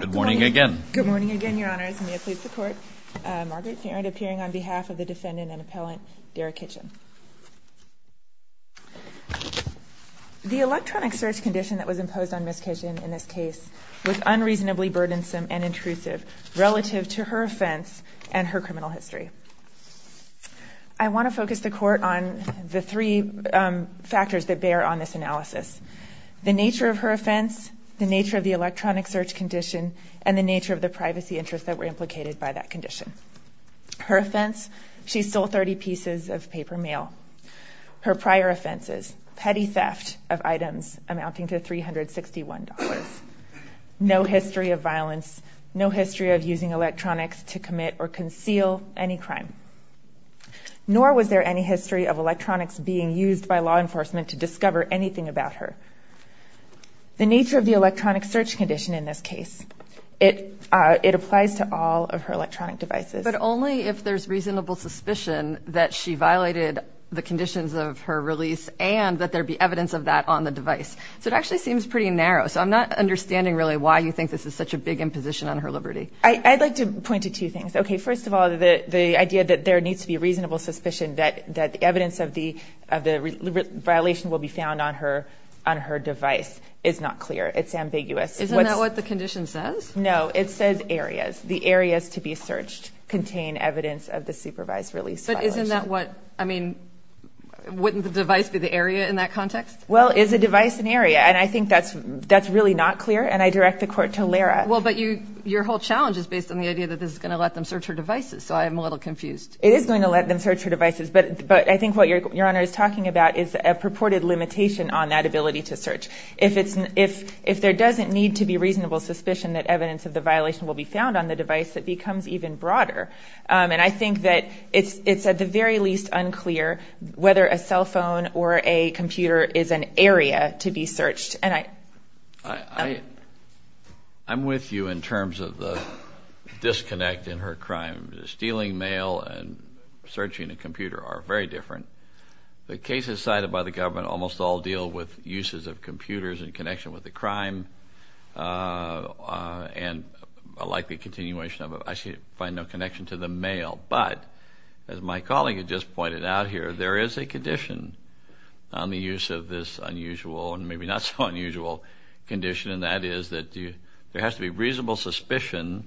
Good morning again. Good morning again, your honors. May it please the court. Margaret Farrand appearing on behalf of the defendant and appellant, Darra Kitchen. The electronic search condition that was imposed on Miss Kitchen in this case was unreasonably burdensome and intrusive relative to her offense and her criminal history. I want to focus the court on the three factors that bear on this analysis. The nature of her offense, the nature of the electronic search condition, and the nature of the privacy interests that were implicated by that condition. Her offense, she stole 30 pieces of paper mail. Her prior offenses, petty theft of items amounting to $361. No history of violence, no history of using electronics to commit or conceal any crime. Nor was there any history of anything about her. The nature of the electronic search condition in this case, it applies to all of her electronic devices. But only if there's reasonable suspicion that she violated the conditions of her release and that there be evidence of that on the device. So it actually seems pretty narrow, so I'm not understanding really why you think this is such a big imposition on her liberty. I'd like to point to two things. Okay, first of all, the idea that there needs to be reasonable suspicion that the evidence of the violation will be found on her device is not clear. It's ambiguous. Isn't that what the condition says? No, it says areas. The areas to be searched contain evidence of the supervised release. But isn't that what, I mean, wouldn't the device be the area in that context? Well, is a device an area? And I think that's really not clear, and I direct the court to Lara. Well, but your whole challenge is based on the idea that this is going to let them search her devices, so I'm a little confused. It is going to let them search her devices, but I think what Your Honor is talking about is a purported limitation on that ability to search. If there doesn't need to be reasonable suspicion that evidence of the violation will be found on the device, it becomes even broader. And I think that it's at the very least unclear whether a cell phone or a computer is an area to be searched. And I... I'm with you in terms of the disconnect in her crime. Stealing mail and the cases cited by the government almost all deal with uses of computers in connection with the crime and a likely continuation of it. I find no connection to the mail. But as my colleague had just pointed out here, there is a condition on the use of this unusual and maybe not so unusual condition, and that is that there has to be reasonable suspicion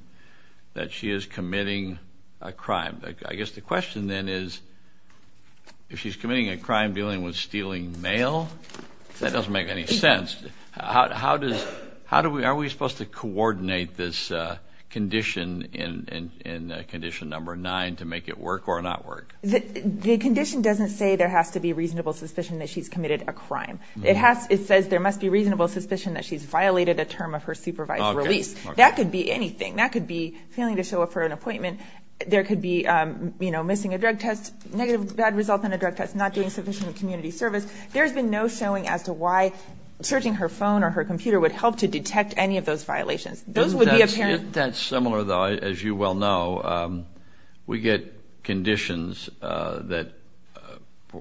that she is if she's committing a crime dealing with stealing mail. That doesn't make any sense. How does... How do we... Are we supposed to coordinate this condition in condition number nine to make it work or not work? The condition doesn't say there has to be reasonable suspicion that she's committed a crime. It has... It says there must be reasonable suspicion that she's violated a term of her supervised release. That could be anything. That could be failing to show up for an appointment. There could be missing a drug test, negative bad result on a drug test, not doing sufficient community service. There's been no showing as to why searching her phone or her computer would help to detect any of those violations. Those would be apparent... Isn't that similar though, as you well know? We get conditions that...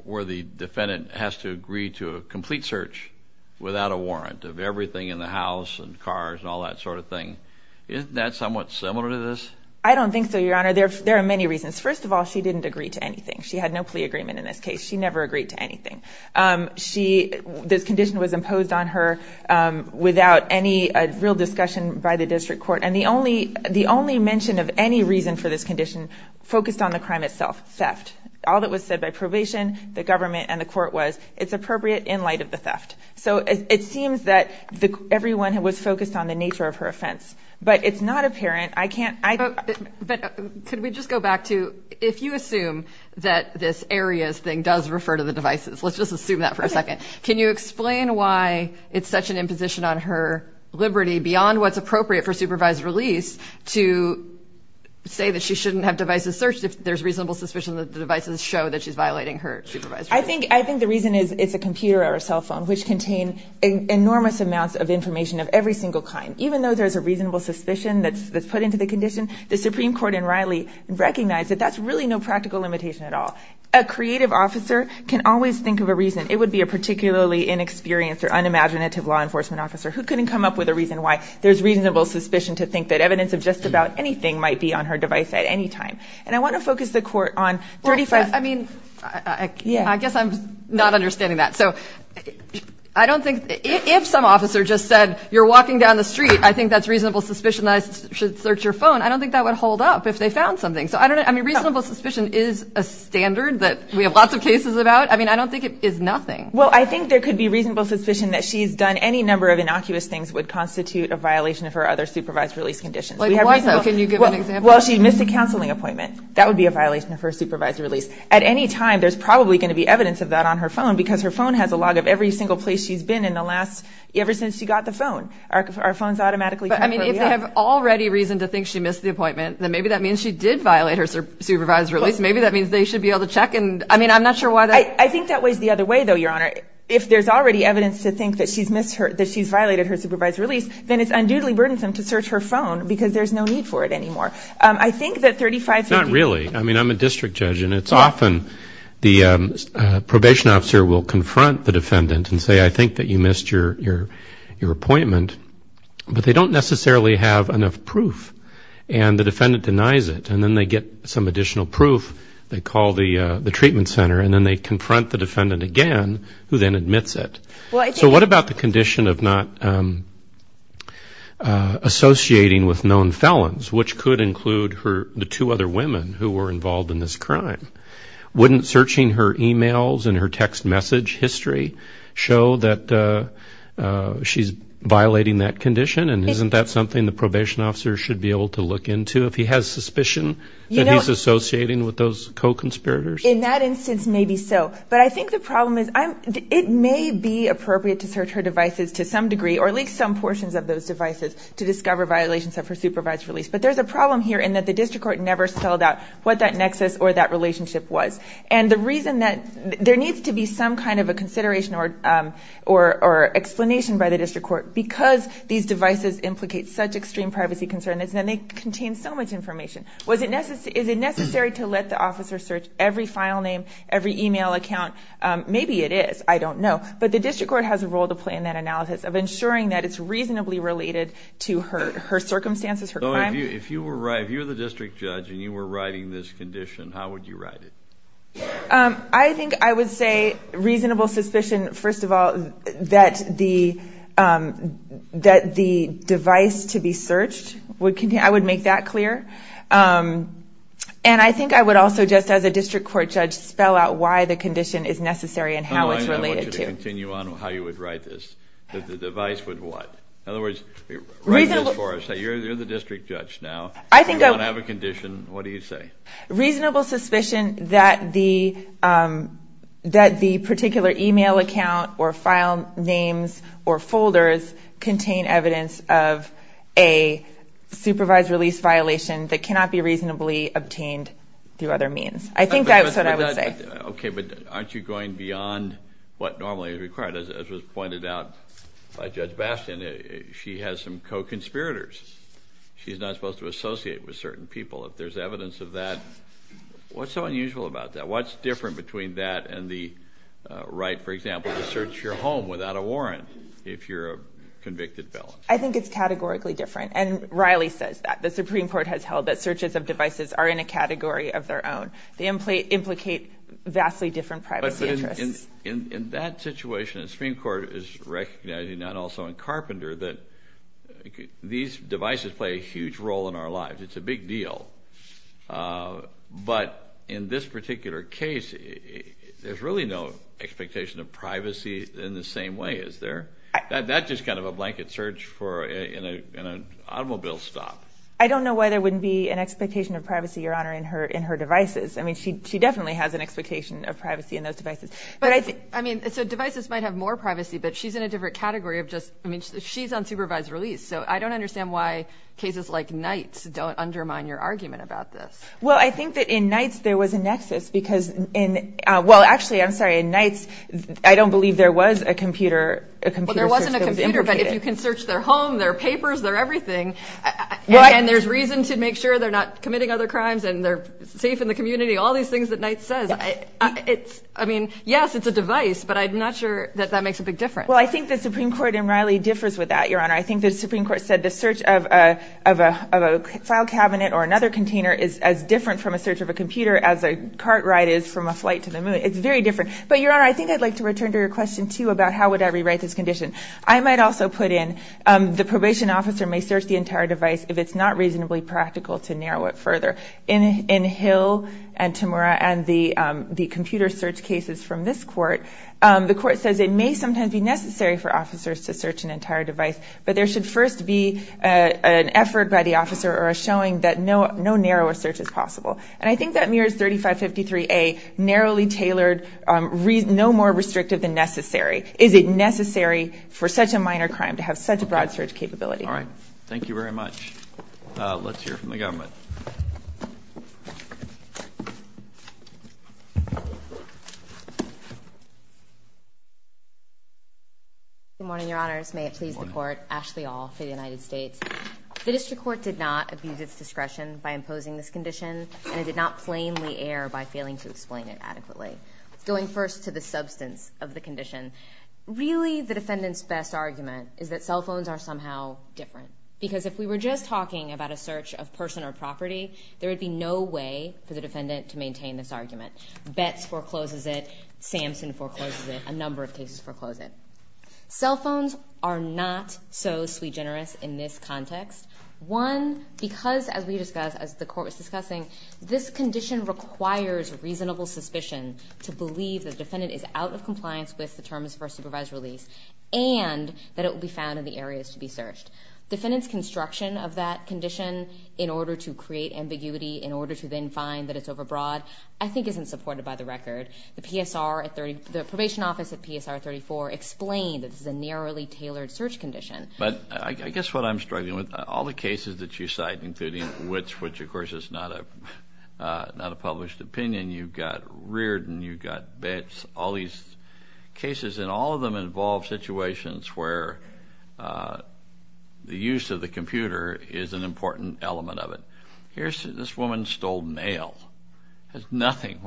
Where the defendant has to agree to a complete search without a warrant of everything in the house and cars and all that sort of thing. Isn't that somewhat similar to this? I don't know. First of all, she didn't agree to anything. She had no plea agreement in this case. She never agreed to anything. This condition was imposed on her without any real discussion by the district court. And the only mention of any reason for this condition focused on the crime itself, theft. All that was said by probation, the government and the court was, it's appropriate in light of the theft. So it seems that everyone was focused on the nature of her offense. But it's not if you assume that this areas thing does refer to the devices, let's just assume that for a second. Can you explain why it's such an imposition on her liberty beyond what's appropriate for supervised release to say that she shouldn't have devices searched if there's reasonable suspicion that the devices show that she's violating her supervised release? I think the reason is it's a computer or a cell phone which contain enormous amounts of information of every single kind. Even though there's a reasonable suspicion that's put into the condition, the Supreme Court in Riley recognized that that's really no practical limitation at all. A creative officer can always think of a reason. It would be a particularly inexperienced or unimaginative law enforcement officer who couldn't come up with a reason why there's reasonable suspicion to think that evidence of just about anything might be on her device at any time. And I wanna focus the court on 35... I guess I'm not understanding that. So I don't think... If some officer just said you're walking down the street, I think that's reasonable suspicion that I should search your phone. I don't think that would hold up if they found something. So I don't know. I mean, reasonable suspicion is a standard that we have lots of cases about. I mean, I don't think it is nothing. Well, I think there could be reasonable suspicion that she's done any number of innocuous things would constitute a violation of her other supervised release conditions. Why so? Can you give an example? Well, she missed a counseling appointment. That would be a violation of her supervised release. At any time, there's probably going to be evidence of that on her phone because her phone has a log of every single place she's been in the last... ever since she got the phone. Our phones automatically... I mean, if they have already reason to think she missed the violation of her supervised release, maybe that means they should be able to check and... I mean, I'm not sure why that... I think that weighs the other way, though, Your Honor. If there's already evidence to think that she's missed her... that she's violated her supervised release, then it's unduly burdensome to search her phone because there's no need for it anymore. I think that 35... Not really. I mean, I'm a district judge and it's often the probation officer will confront the defendant and say, I think that you missed your appointment, but they don't necessarily have enough proof and the defendant denies it and then they get some additional proof. They call the treatment center and then they confront the defendant again who then admits it. So what about the condition of not associating with known felons, which could include her... the two other women who were involved in this crime? Wouldn't searching her emails and her text message history show that she's violating that condition and isn't that something the probation officer should be able to look into if he has suspicion that he's associating with those co-conspirators? In that instance, maybe so, but I think the problem is I'm... it may be appropriate to search her devices to some degree or at least some portions of those devices to discover violations of her supervised release, but there's a problem here in that the district court never spelled out what that nexus or that relationship was and the reason that... there needs to be some kind of a consideration or explanation by the district court because these devices implicate such extreme privacy concerns and they contain so much information. Was it necessary... is it necessary to let the officer search every file name, every email account? Maybe it is, I don't know, but the district court has a role to play in that analysis of ensuring that it's reasonably related to her circumstances, her crime. If you were the district judge and you were writing this condition, how would you write it? I think I would say reasonable suspicion, first of all, that the... that the device to be searched would continue... I would make that clear and I think I would also just as a district court judge spell out why the condition is necessary and how it's related. I want you to continue on how you would write this, that the device would what? In other words, write this for us, say you're the district judge now, you don't have a condition, what do you say? Reasonable suspicion that the... that the particular email account or file names or folders contain evidence of a supervised release violation that cannot be reasonably obtained through other means. I think that's what I would say. Okay, but aren't you going beyond what normally is required? As was pointed out by Judge Bastian, she has some co-conspirators. She's not supposed to be involved in that. What's so unusual about that? What's different between that and the right, for example, to search your home without a warrant if you're a convicted felon? I think it's categorically different and Riley says that. The Supreme Court has held that searches of devices are in a category of their own. They implicate vastly different privacy interests. But in that situation, the Supreme Court is recognizing that also in Carpenter that these devices play a huge role in our deal. But in this particular case, there's really no expectation of privacy in the same way, is there? That's just kind of a blanket search in an automobile stop. I don't know why there wouldn't be an expectation of privacy, Your Honor, in her devices. I mean, she definitely has an expectation of privacy in those devices. But I think... I mean, so devices might have more privacy, but she's in a different category of just... I mean, she's on supervised release, so I Well, I think that in Knight's, there was a nexus because in... Well, actually, I'm sorry, in Knight's, I don't believe there was a computer... Well, there wasn't a computer, but if you can search their home, their papers, their everything, and there's reason to make sure they're not committing other crimes and they're safe in the community, all these things that Knight says, it's... I mean, yes, it's a device, but I'm not sure that that makes a big difference. Well, I think the Supreme Court in Riley differs with that, Your Honor. I think the or another container is as different from a search of a computer as a cart ride is from a flight to the moon. It's very different. But, Your Honor, I think I'd like to return to your question, too, about how would I rewrite this condition. I might also put in the probation officer may search the entire device if it's not reasonably practical to narrow it further. In Hill and Tamura and the computer search cases from this court, the court says it may sometimes be necessary for officers to search an entire device, but there should first be an effort by the court to narrow as search as possible. And I think that mirrors 3553A, narrowly tailored, no more restrictive than necessary. Is it necessary for such a minor crime to have such a broad search capability? All right. Thank you very much. Let's hear from the government. Good morning, Your Honors. May it please the court. Ashley All for the United States. The district court did not abuse its discretion by imposing this condition, and it did not plainly err by failing to explain it adequately. It's going first to the substance of the condition. Really, the defendant's best argument is that cell phones are somehow different. Because if we were just talking about a search of person or property, there would be no way for the defendant to maintain this argument. Betz forecloses it. Samson forecloses it. A number of cases foreclose it. Cell phones are not so sui generis in this context. One, because as we discussed, as the court was discussing, this condition requires reasonable suspicion to believe the defendant is out of compliance with the terms of first supervised release and that it will be found in the areas to be searched. Defendant's construction of that condition in order to create ambiguity, in order to then find that it's overbroad, I think isn't supported by the record. The PSR, the probation office at PSR 34 explained that this is a narrowly tailored search condition. But I guess what I'm struggling with, all the cases that you cite, including which, which of course is not a, not a published opinion, you've got Reardon, you've got Betz, all these cases, and all of them involve situations where the use of the computer is an important element of it. Here's, this woman stole mail. Has they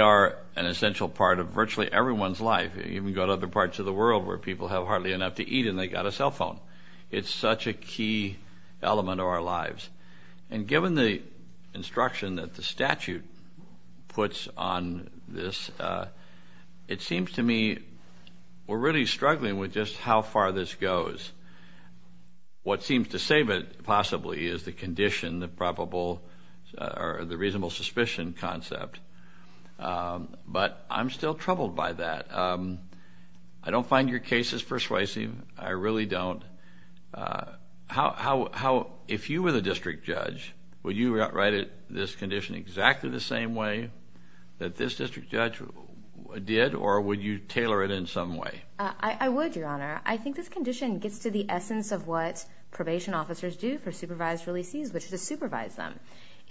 are an essential part of virtually everyone's life. You can go to other parts of the world where people have hardly enough to eat and they got a cell phone. It's such a key element of our lives. And given the instruction that the statute puts on this, it seems to me we're really struggling with just how far this goes. What seems to save it possibly is the condition, the reasonable suspicion concept. But I'm still troubled by that. I don't find your cases persuasive. I really don't. How, how, how, if you were the district judge, would you write it, this condition, exactly the same way that this district judge did? Or would you tailor it in some way? I would, Your Honor. I think this condition gets to the essence of what probation officers do for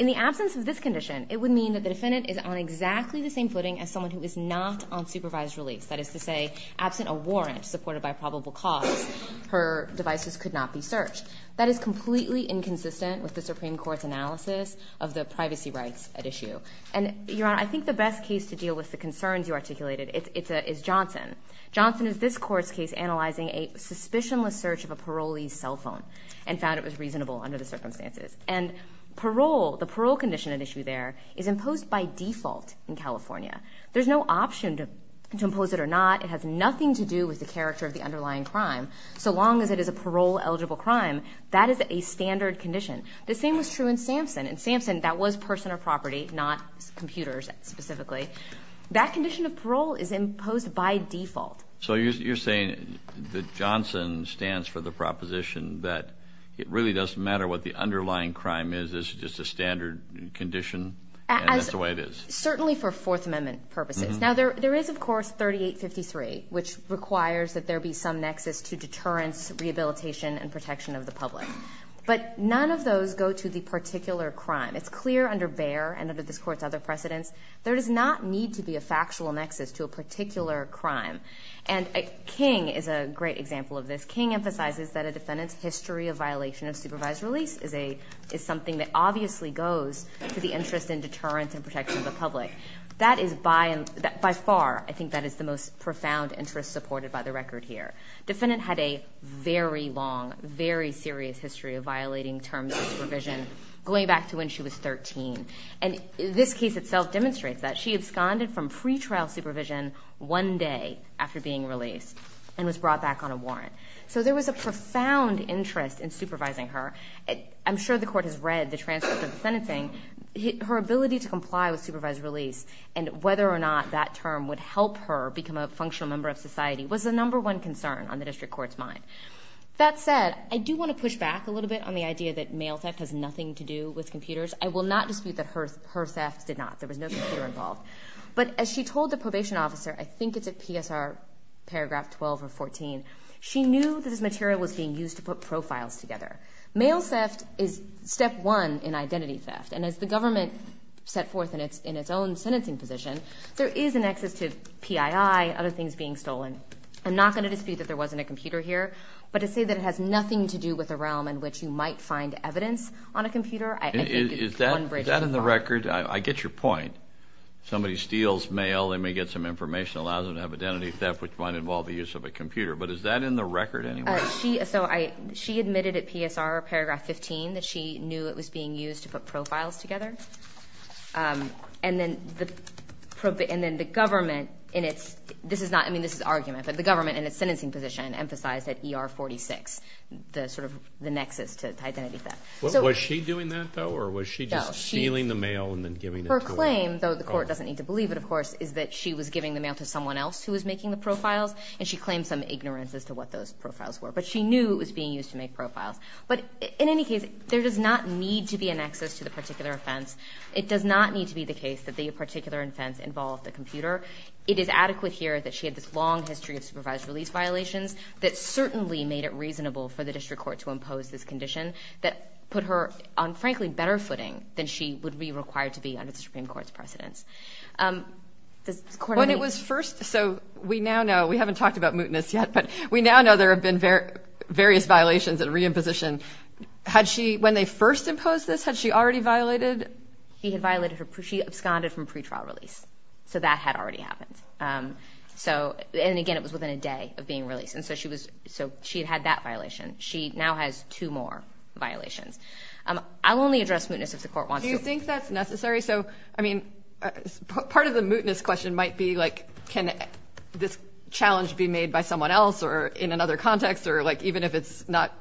this condition. It would mean that the defendant is on exactly the same footing as someone who is not on supervised release. That is to say, absent a warrant supported by probable cause, her devices could not be searched. That is completely inconsistent with the Supreme Court's analysis of the privacy rights at issue. And, Your Honor, I think the best case to deal with the concerns you articulated, it's a, is Johnson. Johnson is this court's case analyzing a suspicionless search of a parolee's cell phone and found it was reasonable under the circumstances. And parole, the parole condition at issue there, is imposed by default in California. There's no option to, to impose it or not. It has nothing to do with the character of the underlying crime. So long as it is a parole-eligible crime, that is a standard condition. The same was true in Sampson. In Sampson, that was person or property, not computers specifically. That condition of parole is imposed by default. So you're saying that Johnson stands for the proposition that it really doesn't matter what the underlying crime is, it's just a standard condition? That's the way it is. Certainly for Fourth Amendment purposes. Now there, there is of course 3853, which requires that there be some nexus to deterrence, rehabilitation, and protection of the public. But none of those go to the particular crime. It's clear under Bayer and under this court's other precedents, there does not need to be a factual nexus to a particular crime. And King is a great example of this. King emphasizes that a defendant's history of violation of supervised release is a, is something that obviously goes to the interest in deterrence and protection of the public. That is by, by far, I think that is the most profound interest supported by the record here. Defendant had a very long, very serious history of violating terms of supervision, going back to when she was 13. And this case itself demonstrates that. She absconded from pretrial supervision one day after being released and was brought back on a warrant. So there was a profound interest in supervising her. I'm sure the court has read the transcript of the sentencing. Her ability to comply with supervised release and whether or not that term would help her become a functional member of society was the number one concern on the district court's mind. That said, I do want to push back a little bit on the idea that mail theft has nothing to do with computers. I will not dispute that her, her thefts did not. There was no computer involved. But as she told the probation officer, I think it's at PSR paragraph 12 or 14, she knew that this material was being used to put profiles together. Mail theft is step one in identity theft. And as the government set forth in its, in its own sentencing position, there is an access to PII, other things being stolen. I'm not going to dispute that there wasn't a computer here, but to say that it has nothing to do with a realm in which you might find evidence on a computer, I think it's one bridge too far. Is that in the record? I get your point. Somebody steals mail, they may get some information, allows them to have identity theft, which might involve the use of a computer. But is that in the record anyway? She, so I, she admitted at PSR paragraph 15 that she knew it was being used to put profiles together. And then the, and then the government in its, this is not, I mean this is argument, but the government in its sentencing position emphasized that ER 46, the sort of the nexus to identity theft. Was she doing that though, or was she just stealing the mail and then giving it to her? Her claim, though the court doesn't need to believe it of course, is that she was giving the mail to someone else who was making the profiles, and she claimed some ignorance as to what those profiles were. But she knew it was being used to make profiles. But in any case, there does not need to be a nexus to the particular offense. It does not need to be the case that the particular offense involved a computer. It is adequate here that she had this long history of supervised release violations that certainly made it reasonable for the district court to impose this condition that put her on frankly better footing than she would be required to be under the Supreme Court's precedence. When it was first, so we now know, we haven't talked about mootness yet, but we now know there have been various violations and re-imposition. Had she, when they first imposed this, had she already violated? He had violated her, she absconded from pretrial release. So that had already happened. So, and again, it was within a day of being released. And so she was, so she had that violation. She now has two more violations. I'll only address mootness if the court wants to. Do you think that's necessary? So, I mean, part of the mootness question might be like, can this challenge be made by someone else or in another context? Or like, even if it's not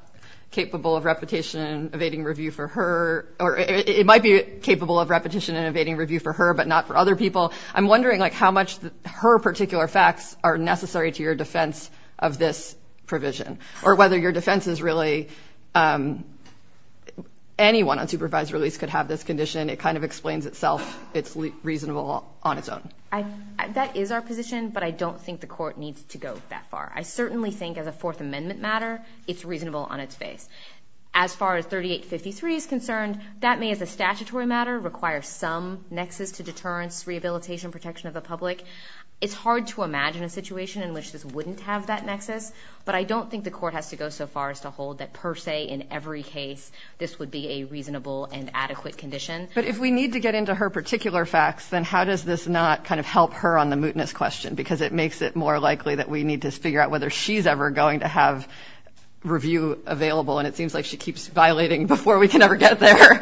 capable of repetition and evading review for her, or it might be capable of repetition and like how much her particular facts are necessary to your defense of this provision. Or whether your defense is really, anyone on supervised release could have this condition. It kind of explains itself. It's reasonable on its own. I, that is our position, but I don't think the court needs to go that far. I certainly think as a Fourth Amendment matter, it's reasonable on its face. As far as 3853 is concerned, that may as a statutory matter require some nexus to the public. It's hard to imagine a situation in which this wouldn't have that nexus, but I don't think the court has to go so far as to hold that per se in every case this would be a reasonable and adequate condition. But if we need to get into her particular facts, then how does this not kind of help her on the mootness question? Because it makes it more likely that we need to figure out whether she's ever going to have review available, and it seems like she keeps violating before we can ever get there.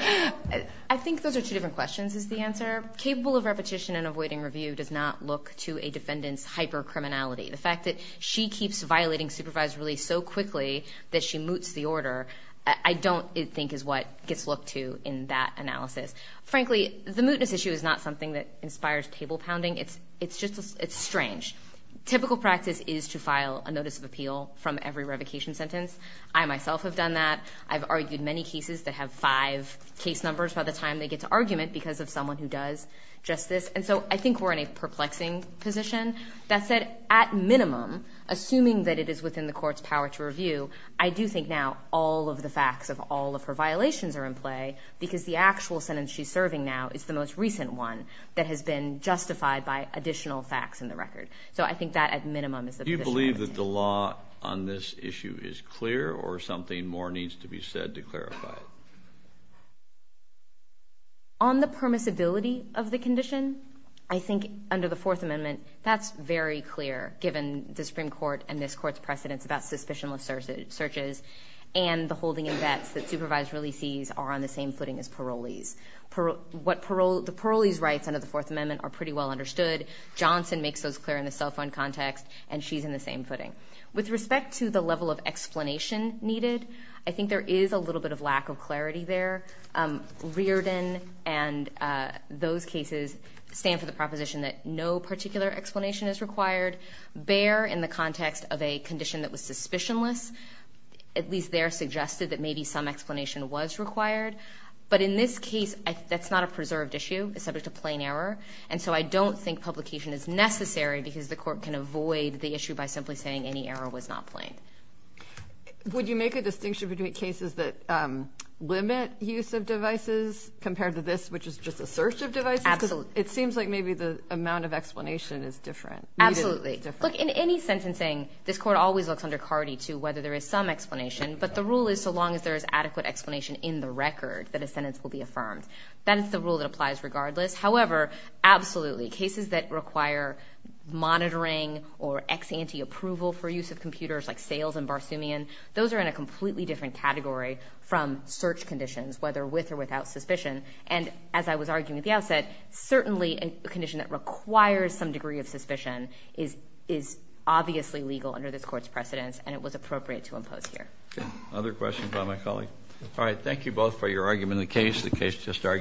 I think those are two different questions is the answer. Capable of repetition and avoiding review does not look to a defendant's hyper criminality. The fact that she keeps violating supervised release so quickly that she moots the order, I don't think is what gets looked to in that analysis. Frankly, the mootness issue is not something that inspires table-pounding. It's, it's just, it's strange. Typical practice is to file a notice of appeal from every revocation sentence. I myself have done that. I've argued many cases that have five case numbers by the time they get to argument because of someone who does just this. And so I think we're in a perplexing position. That said, at minimum, assuming that it is within the court's power to review, I do think now all of the facts of all of her violations are in play because the actual sentence she's serving now is the most recent one that has been justified by additional facts in the record. So I think that at minimum is the position. Do you believe that the law on this issue is clear or something more On the permissibility of the condition, I think under the Fourth Amendment, that's very clear given the Supreme Court and this court's precedents about suspicionless searches and the holding in vets that supervised releasees are on the same footing as parolees. What parole, the parolee's rights under the Fourth Amendment are pretty well understood. Johnson makes those clear in the cell phone context and she's in the same footing. With respect to the level of explanation needed, I think there is a little bit of lack of clarity there. Reardon and those cases stand for the proposition that no particular explanation is required. Bayer, in the context of a condition that was suspicionless, at least there suggested that maybe some explanation was required. But in this case, that's not a preserved issue. It's subject to plain error and so I don't think publication is necessary because the court can avoid the issue by simply saying any error was not plain. Would you make a distinction between cases that limit use of devices compared to this, which is just a search of devices? Absolutely. It seems like maybe the amount of explanation is different. Absolutely. Look, in any sentencing, this court always looks under CARDI to whether there is some explanation, but the rule is so long as there is adequate explanation in the record that a sentence will be affirmed. That is the rule that applies regardless. However, absolutely, cases that require monitoring or ex ante approval for use of computers like sales and Barsoomian, those are in a completely different category from search conditions, whether with or without suspicion. And as I was arguing at the outset, certainly a condition that requires some degree of suspicion is obviously legal under this court's precedence, and it was appropriate to impose here. Other questions by my colleague? All right. Thank you both for your argument. The case, the case just argued